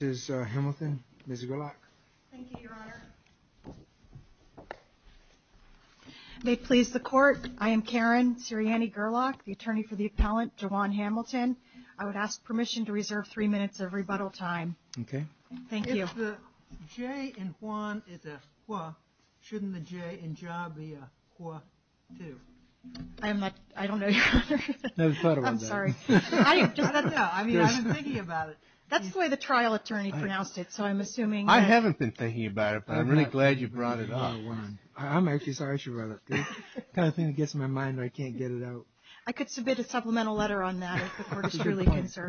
is a lot they please the court I am Karen Sirianni Gerlach the attorney for the appellant to Juan Hamilton I would ask permission to reserve three minutes of rebuttal time okay thank you. If the J in Juan is a HWA shouldn't the J in JA be a HWA too? I don't know your honor, I'm sorry I haven't been thinking about it but I'm really glad you brought it up I'm actually sorry she brought it up, the kind of thing that gets in my mind but I can't get it out I could submit a supplemental letter on that if the court is really concerned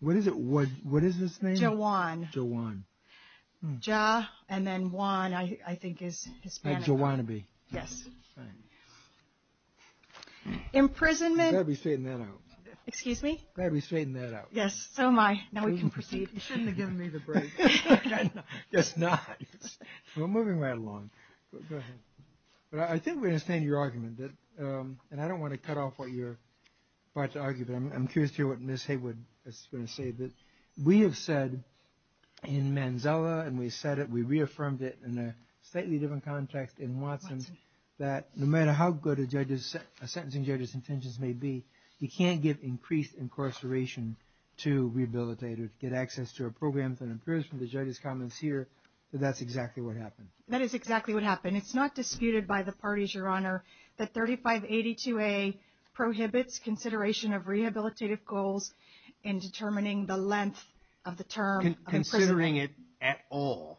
What is his name? JA and then Juan I think is excuse me? Glad we straightened that out. Yes so am I now we can proceed. You shouldn't have given me the break. We're moving right along but I think we understand your argument and I don't want to cut off what you're about to argue but I'm curious to hear what Ms. Haywood is going to say that we have said in Manzella and we said it we reaffirmed it in a slightly different context in Watson that no matter how good a sentencing judge's intentions may be you can't give increased incarceration to rehabilitated get access to a program that impairs from the judge's comments here that's exactly what happened. That is exactly what happened it's not disputed by the parties your honor that 3582A prohibits consideration of rehabilitative goals in determining the length of the term of imprisonment. Considering it at all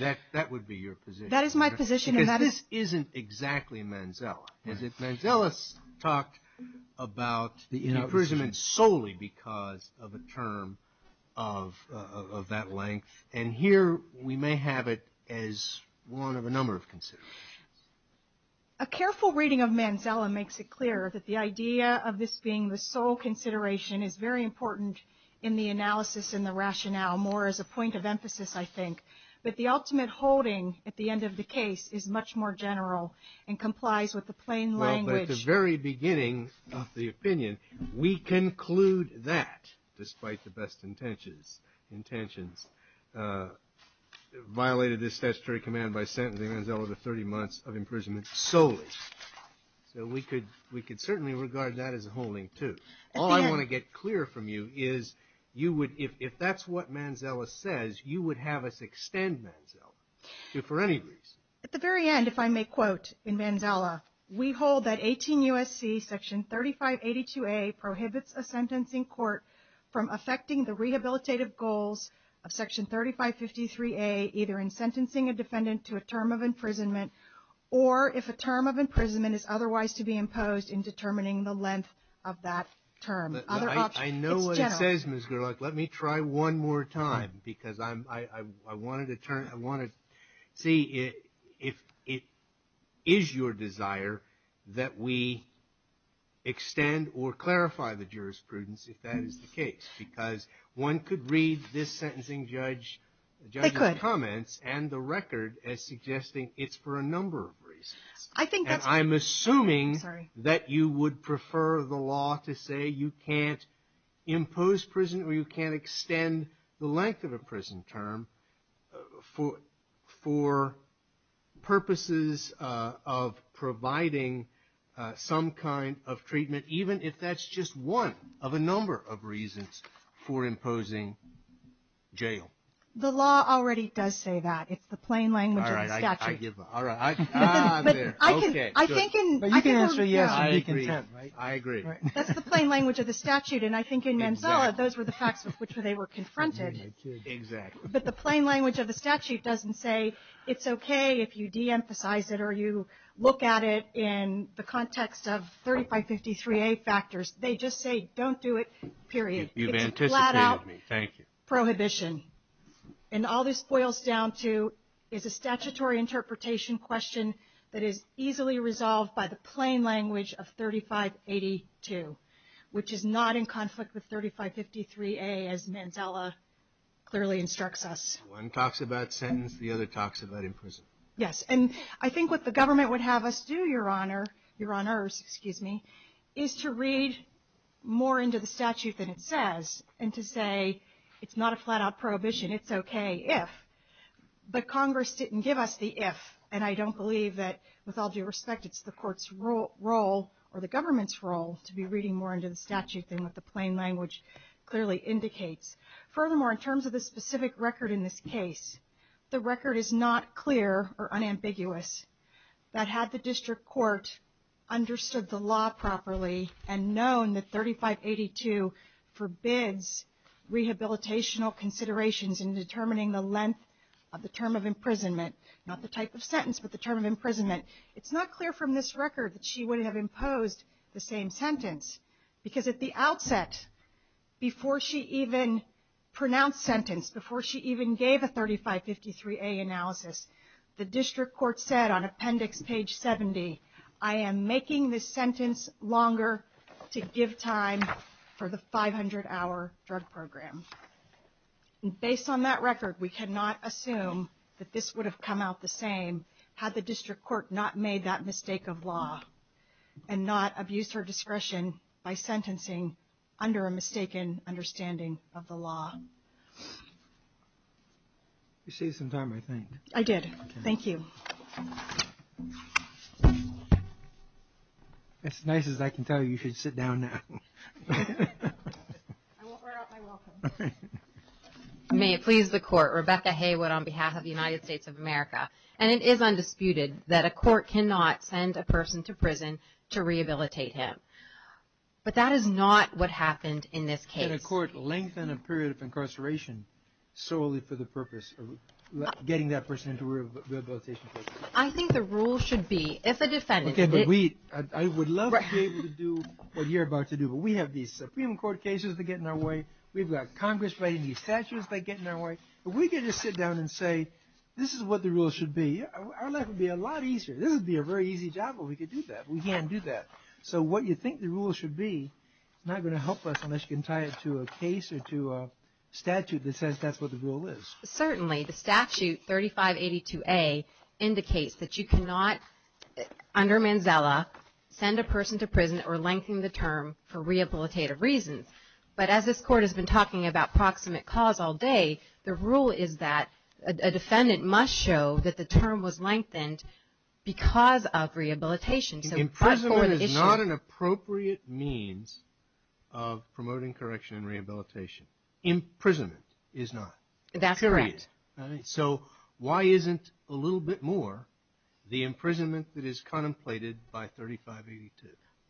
that would be your position. That is my position. Because this isn't exactly Manzella Manzella talked about imprisonment solely because of a term of that length and here we may have it as one of a number of considerations. A careful reading of Manzella makes it clear that the idea of this being the sole consideration is very important in the analysis in the rationale more as a point of emphasis I think but the ultimate holding at the end of the case is much more general and complies with the plain language. Well at the very beginning of the opinion we conclude that despite the best intentions violated this statutory command by sentencing Manzella to 30 months of imprisonment solely. So we could we could certainly regard that as a holding too. All I want to get clear from you is you would if that's what Manzella says you would have us extend Manzella for any reason. At the very end if I may quote in Manzella we hold that 18 U.S.C. section 3582A prohibits a sentencing court from affecting the rehabilitative goals of section 3553A either in sentencing a defendant to a term of imprisonment or if a term of imprisonment is otherwise to be imposed in determining the length of that term. I know what it says Ms. Gerlach. Let me try one more time because I wanted to turn I wanted to see if it is your desire that we extend or clarify the jurisprudence if that is the case because one could read this sentencing judge comments and the record as suggesting it's for a number of reasons. I think that I'm assuming that you would prefer the law to say you can't extend the length of a prison term for purposes of providing some kind of treatment even if that's just one of a number of reasons for imposing jail. The law already does say that. It's the plain language of the statute. All right, I give up. I agree. That's the plain language of the statute and I think in Manzella those were the facts with which they were confronted. Exactly. But the plain language of the statute doesn't say it's okay if you de-emphasize it or you look at it in the context of 3553A factors. They just say don't do it period. You've anticipated me. Thank you. It's a flat out prohibition and all this boils down to is a statutory interpretation question that is easily resolved by the plain language of 3582 which is not in conflict with 3553A as Manzella clearly instructs us. One talks about sentence, the other talks about imprisonment. Yes, and I think what the government would have us do, Your Honor, Your Honors, excuse me, is to read more into the statute than it says and to say it's not a flat out prohibition, it's okay if. But Congress didn't give us the if and I don't believe that with all due respect it's the court's role or the government's role to be reading more into the statute than what the plain language clearly indicates. Furthermore, in terms of the specific record in this case, the record is not clear or unambiguous that had the district court understood the law properly and known that 3582 forbids rehabilitational considerations in determining the length of the term of imprisonment, not the type of sentence, but the term of imprisonment, it's not clear from this record that she would have imposed the same sentence because at the outset before she even pronounced sentence, before she even gave a 3553A analysis, the district court said on appendix page 70, I am making this sentence longer to give time for the 500-hour drug program. Based on that record, we cannot assume that this would have come out the same had the district court not made that mistake of law and not abused her discretion by sentencing under a mistaken understanding of the law. You saved some time, I think. I did. Thank you. As nice as I can tell you, you should sit down now. I won't wear out my welcome. May it please the court, Rebecca Haywood on behalf of the United States of America. And it is undisputed that a court cannot send a person to prison to rehabilitate him, but that is not what happened in this case. Can a court lengthen a period of incarceration solely for the purpose of getting that person into rehabilitation? I think the rule should be, if a defendant... I would love to be able to do what you're about to do, but we have these Supreme Court cases that get in our way, we've got Congress writing these statutes that get in our way, but we can just sit down and say this is what the rule should be. Our life would be a lot easier. This would be a very easy job, but we can't do that. So what you think the rule should be is not going to help us unless you can tie it to a case or to a statute that says that's what the rule is. Certainly, the statute 3582A indicates that you cannot, under Manzella, send a person to prison or lengthen the term for rehabilitative reasons. But as this court has been talking about proximate cause all day, the rule is that a defendant must show that the term was lengthened because of rehabilitation. Imprisonment is not an appropriate means of promoting correction and rehabilitation. Imprisonment is not. That's correct. Period. So, why isn't a little bit more the imprisonment that is contemplated by 3582?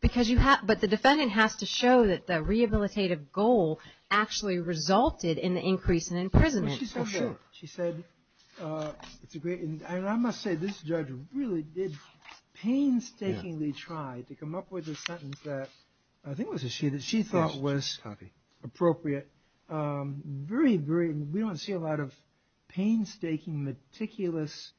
Because you have... but the defendant has to show that the rehabilitative goal actually resulted in the increase in imprisonment. She said... I must say this judge really did painstakingly try to come up with a sentence that I think was a she that she thought was appropriate. Very, very... we don't see a lot of painstaking, meticulous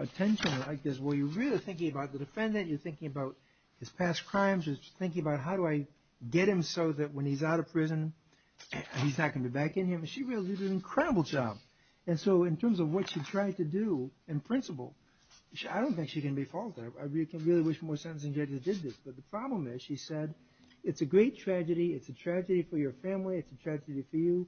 attention like this where you're really thinking about the defendant. You're thinking about his past crimes. You're thinking about how do I get him so that when he's out of prison, he's not going to be back in here. She really did an incredible job. And so, in terms of what she tried to do in principle, I don't think she can be faulted. I really wish more sentencing judges did this. But the problem is, she said, it's a great tragedy. It's a tragedy for your family. It's a tragedy for you.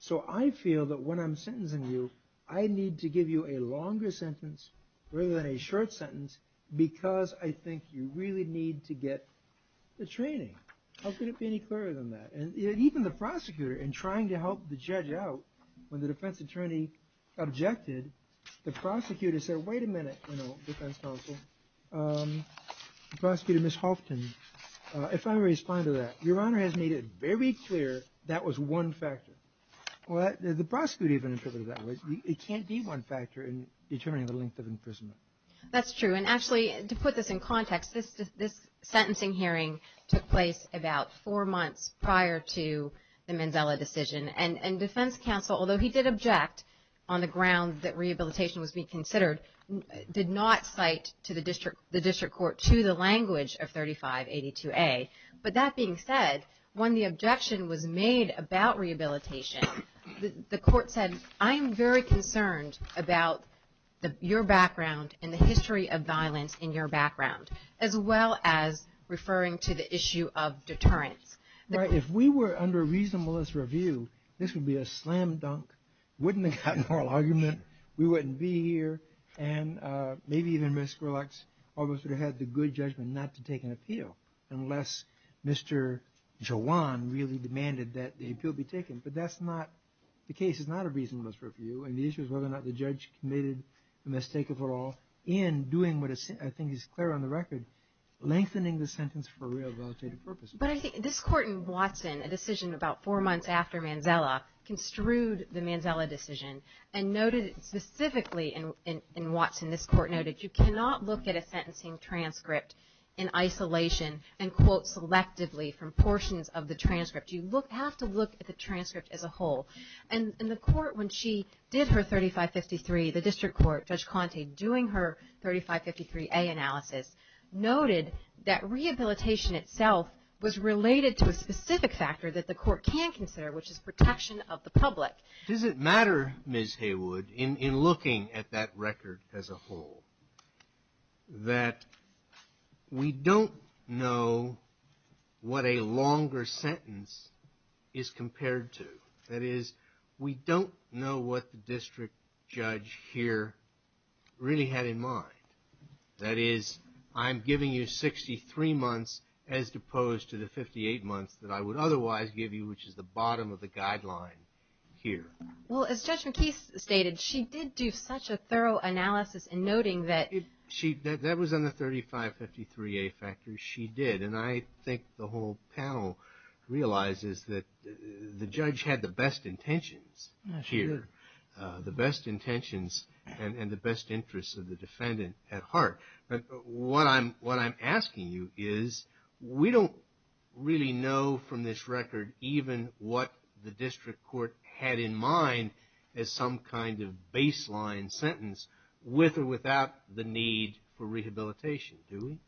So, I feel that when I'm sentencing you, I need to give you a longer sentence rather than a short sentence because I think you really need to get the training. How could it be any clearer than that? And even the prosecutor in trying to help the judge out, when the defense attorney objected, the prosecutor said, wait a minute, you know, defense counsel, prosecutor Ms. Halfton, if I respond to that, your honor has made it very clear that was one factor. Well, the prosecutor even interpreted that way. It can't be one factor in determining the length of imprisonment. That's true. And actually, to put this in context, this sentencing hearing took place about four months prior to the Manzella decision. And defense counsel, although he did object on the ground that rehabilitation was being considered, did not cite the district court to the language of 3582A. But that being said, when the objection was made about rehabilitation, the court said, I'm very concerned about your background and the history of violence in your background, as well as referring to the issue of deterrence. Right. If we were under reasonableness review, this would be a slam dunk. Wouldn't have gotten a moral argument. We wouldn't be here. And maybe even Ms. Skrillex almost would have had the good judgment not to take an appeal, unless Mr. Jawan really demanded that the appeal be taken. But that's not the case. It's not a reasonableness review. And the issue is whether or not the judge committed the mistake of it all in doing what I think is clear on the record, lengthening the sentence for rehabilitative purposes. But I think this court in Watson, a decision about four months after Manzella, construed the Manzella decision and noted it specifically in Watson. This court noted you cannot look at a sentencing transcript in isolation and quote selectively from portions of the transcript. You have to look at the transcript as a whole. And the court, when she did her 3553, the district court, Judge Conte, doing her 3553A analysis, noted that rehabilitation itself was related to a specific factor that the court can consider, which is protection of the public. Does it matter, Ms. Haywood, in looking at that record as a whole, that we don't know what a longer sentence is compared to? That is, we don't know what the district judge here really had in mind. That is, I'm giving you 63 months as opposed to the 58 months that I would otherwise give you, which is the bottom of the guideline here. Well, as Judge McKee stated, she did do such a thorough analysis in noting that... ...the best intentions here, the best intentions and the best interests of the defendant at heart. But what I'm asking you is, we don't really know from this record even what the district court had in mind as some kind of baseline sentence, with or without the need for rehabilitation, do we?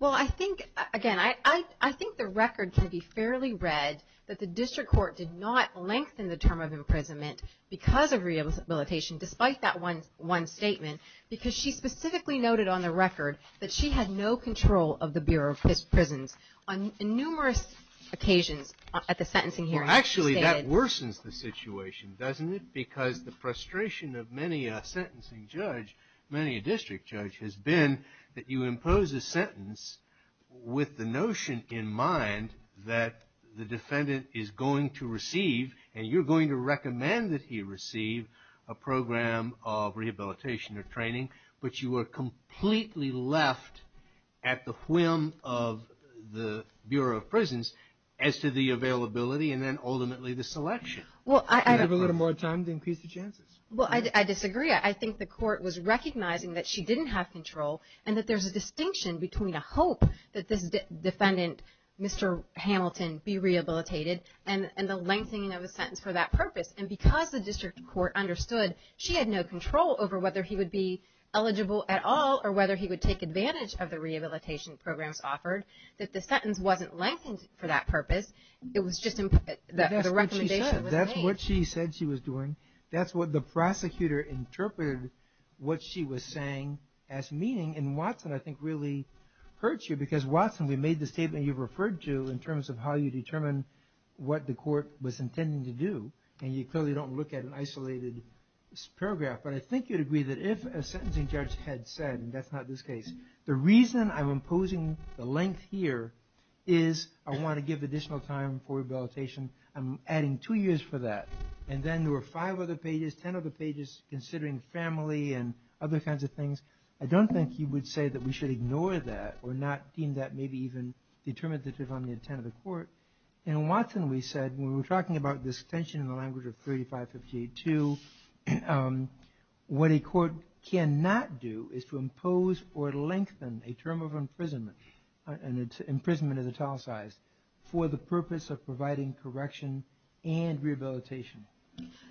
Well, I think, again, I think the record can be fairly read that the district court did not lengthen the term of imprisonment because of rehabilitation, despite that one statement, because she specifically noted on the record that she had no control of the Bureau of Prisons on numerous occasions at the sentencing hearing. Actually, that worsens the situation, doesn't it? Because the frustration of many a sentencing judge, many a district judge, has been that you impose a sentence with the notion in mind that the defendant is going to receive, and you're going to recommend that he receive, a program of rehabilitation or training, but you are completely left at the whim of the Bureau of Prisons as to the availability and then ultimately the selection. You have a little more time to increase the chances. Well, I disagree. I think the court was recognizing that she didn't have control and that there's a distinction between a hope that this defendant, Mr. Hamilton, be rehabilitated and the lengthening of a sentence for that purpose. And because the district court understood she had no control over whether he would be eligible at all or whether he would take advantage of the rehabilitation programs offered, that the sentence wasn't lengthened for that purpose. It was just the recommendation. That's what she said she was doing. That's what the prosecutor interpreted what she was saying as meaning. And Watson, I think, really hurt you because Watson, we made the statement you referred to in terms of how you determine what the court was intending to do. And you clearly don't look at an isolated paragraph. But I think you'd agree that if a sentencing judge had said, and that's not this case, the reason I'm imposing the length here is I want to give additional time for rehabilitation. I'm adding two years for that. And then there were five other pages, ten other pages, considering family and other kinds of things. I don't think you would say that we should ignore that or not deem that maybe even determinative on the intent of the court. And Watson, we said, when we were talking about this tension in the language of 3558-2, what a court cannot do is to impose or lengthen a term of imprisonment. Imprisonment is italicized for the purpose of providing correction and rehabilitation.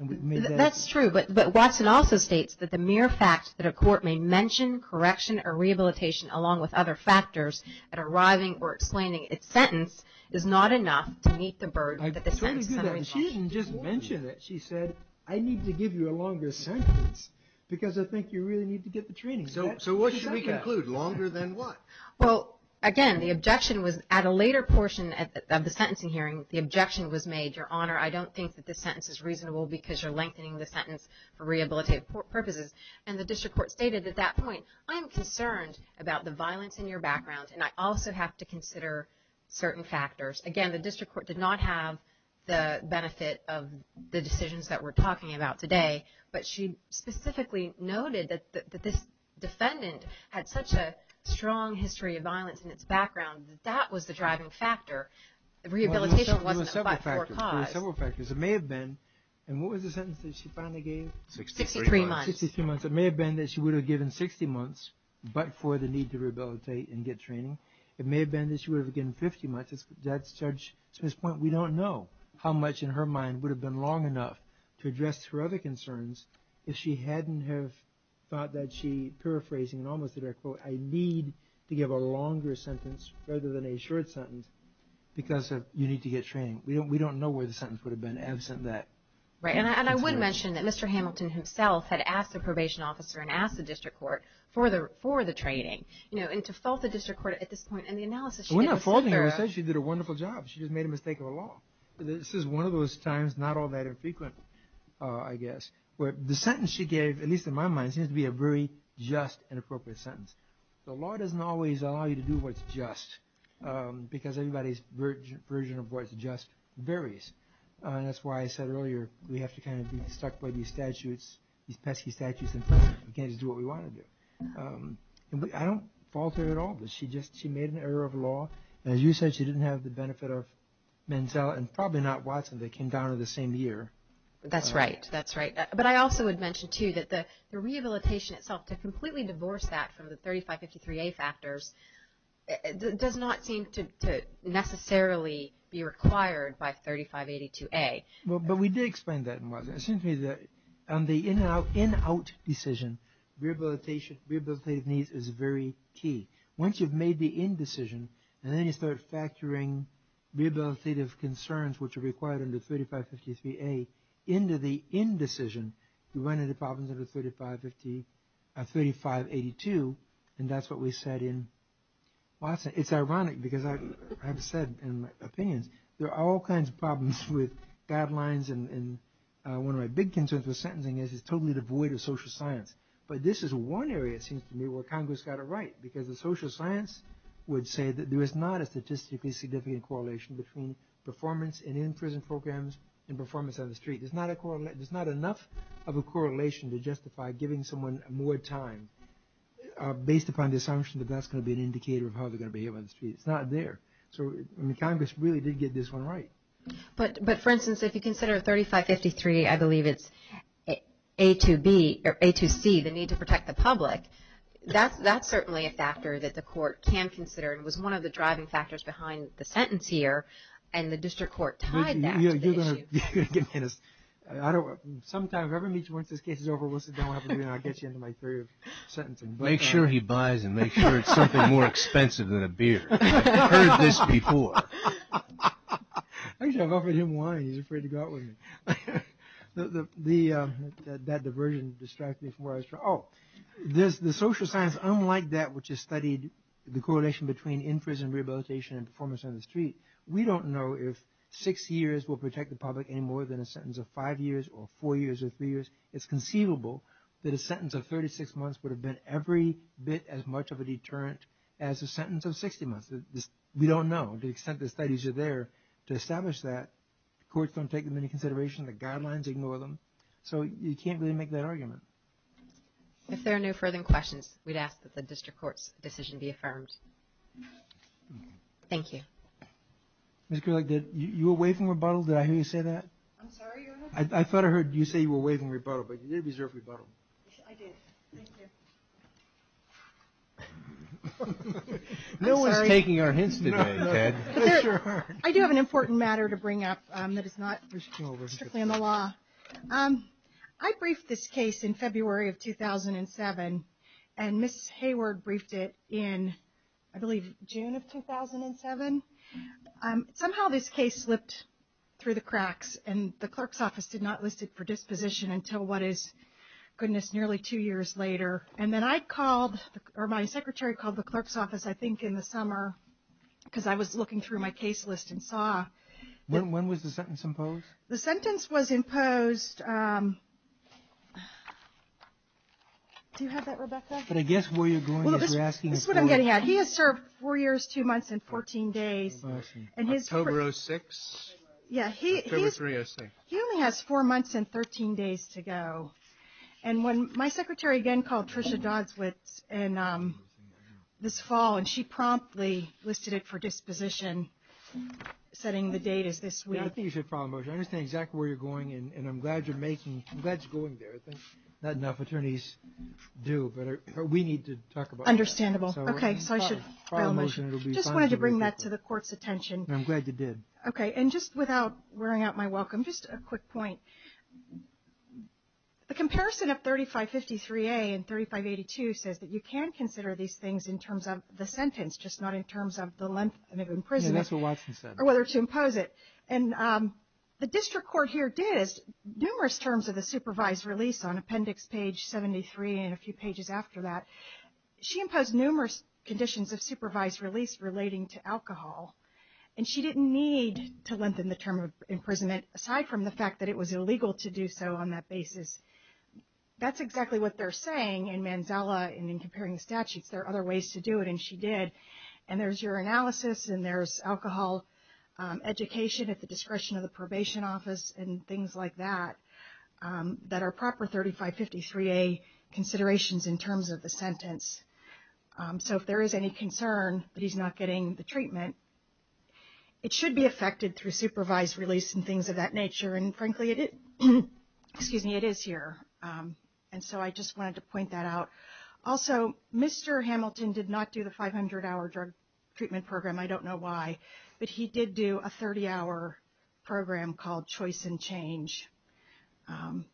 That's true. But Watson also states that the mere fact that a court may mention correction or rehabilitation along with other factors at arriving or explaining its sentence is not enough to meet the burden that the sentence is going to impose. She didn't just mention it. She said, I need to give you a longer sentence because I think you really need to get the training. So what should we conclude? Longer than what? Well, again, the objection was at a later portion of the sentencing hearing, the objection was made, Your Honor, I don't think that this sentence is reasonable because you're lengthening the sentence for rehabilitative purposes. And the district court stated at that point, I am concerned about the violence in your background, and I also have to consider certain factors. Again, the district court did not have the benefit of the decisions that we're talking about today, but she specifically noted that this defendant had such a strong history of violence in its background that that was the driving factor. Rehabilitation wasn't a forecast. Well, there were several factors. There were several factors. It may have been, and what was the sentence that she finally gave? 63 months. 63 months. It may have been that she would have given 60 months but for the need to rehabilitate and get training. It may have been that she would have given 50 months. That's Judge Smith's point. We don't know how much in her mind would have been long enough to address her other concerns if she hadn't have thought that she, paraphrasing in almost a direct quote, I need to give a longer sentence rather than a short sentence because you need to get training. We don't know where the sentence would have been absent that. Right, and I would mention that Mr. Hamilton himself had asked the probation officer and asked the district court for the training, and to fault the district court at this point. We're not faulting her. She did a wonderful job. She just made a mistake of a law. This is one of those times, not all that infrequent, I guess, where the sentence she gave, at least in my mind, seems to be a very just and appropriate sentence. The law doesn't always allow you to do what's just because everybody's version of what's just varies, and that's why I said earlier we have to kind of be stuck by these statutes, these pesky statutes, and we can't just do what we want to do. I don't fault her at all. She just made an error of law, and as you said, she didn't have the benefit of Menzel, and probably not Watson that came down in the same year. That's right, that's right. But I also would mention, too, that the rehabilitation itself, to completely divorce that from the 3553A factors, does not seem to necessarily be required by 3582A. But we did explain that in Watson. It seems to me that on the in-out decision, rehabilitation needs is very key. Once you've made the in decision, and then you start factoring rehabilitative concerns, which are required under 3553A, into the in decision, you run into problems under 3582, and that's what we said in Watson. It's ironic, because I've said in my opinions, there are all kinds of problems with guidelines, and one of my big concerns with sentencing is it's totally devoid of social science. But this is one area, it seems to me, where Congress got it right, because the social science would say that there is not a statistically significant correlation between performance in in-prison programs and performance on the street. There's not enough of a correlation to justify giving someone more time, based upon the assumption that that's going to be an indicator of how they're going to behave on the street. It's not there. So Congress really did get this one right. But for instance, if you consider 3553, I believe it's A2C, the need to protect the public, that's certainly a factor that the court can consider, and was one of the driving factors behind the sentence here, and the district court tied that to the issue. Sometime, whoever meets me once this case is over, we'll sit down and I'll get you into my theory of sentencing. Make sure he buys and make sure it's something more expensive than a beer. I've heard this before. Actually, I've offered him wine, he's afraid to go out with me. That diversion distracted me from where I was trying. Oh, the social science, unlike that which is studied, the correlation between in-prison rehabilitation and performance on the street, we don't know if six years will protect the public any more than a sentence of five years or four years or three years. It's conceivable that a sentence of 36 months would have been every bit as much of a deterrent as a sentence of 60 months. We don't know the extent the studies are there to establish that. Courts don't take them into consideration. The guidelines ignore them. So you can't really make that argument. If there are no further questions, we'd ask that the district court's decision be affirmed. Thank you. You were waiving rebuttal, did I hear you say that? I'm sorry? I thought I heard you say you were waiving rebuttal, but you did reserve rebuttal. I did, thank you. No one's taking our hints today, Ted. I do have an important matter to bring up that is not strictly in the law. I briefed this case in February of 2007, and Ms. Hayward briefed it in, I believe, June of 2007. Somehow this case slipped through the cracks, and the clerk's office did not list it for disposition until, what is, goodness, nearly two years later. And then I called, or my secretary called the clerk's office, I think in the summer, because I was looking through my case list and saw. When was the sentence imposed? The sentence was imposed. Do you have that, Rebecca? But I guess where you're going is you're asking the court. This is what I'm getting at. He has served four years, two months, and 14 days. October of 2006? Yeah, he only has four months and 13 days to go. And when my secretary again called Tricia Dodswitz this fall, and she promptly listed it for disposition, setting the date as this week. I think you should file a motion. I understand exactly where you're going, and I'm glad you're going there. Not enough attorneys do, but we need to talk about it. Understandable. Okay, so I should file a motion. I just wanted to bring that to the court's attention. I'm glad you did. Okay, and just without wearing out my welcome, just a quick point. The comparison of 3553A and 3582 says that you can consider these things in terms of the sentence, just not in terms of the length of imprisonment. Yeah, that's what Watson said. Or whether to impose it. And the district court here did. Numerous terms of the supervised release on appendix page 73 and a few pages after that, she imposed numerous conditions of supervised release relating to alcohol. And she didn't need to lengthen the term of imprisonment, aside from the fact that it was illegal to do so on that basis. That's exactly what they're saying in Manzala and in comparing the statutes. There are other ways to do it, and she did. And there's your analysis and there's alcohol education at the discretion of the probation office and things like that that are proper 3553A considerations in terms of the sentence. So if there is any concern that he's not getting the treatment, it should be affected through supervised release and things of that nature. And, frankly, it is here. And so I just wanted to point that out. Also, Mr. Hamilton did not do the 500-hour drug treatment program. I don't know why. But he did do a 30-hour program called Choice and Change.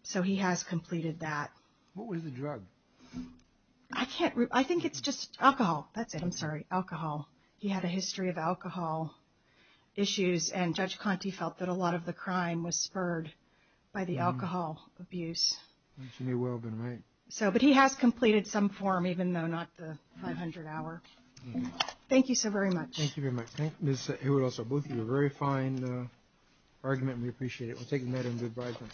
So he has completed that. What was the drug? I can't remember. I think it's just alcohol. That's it. I'm sorry. Alcohol. He had a history of alcohol issues, and Judge Conte felt that a lot of the crime was spurred by the alcohol abuse. She may well have been right. But he has completed some form, even though not the 500-hour. Thank you so very much. Thank you very much. Thank you, Ms. Hewitt also. Both of you, a very fine argument. We appreciate it. We'll take a minute and good-bye.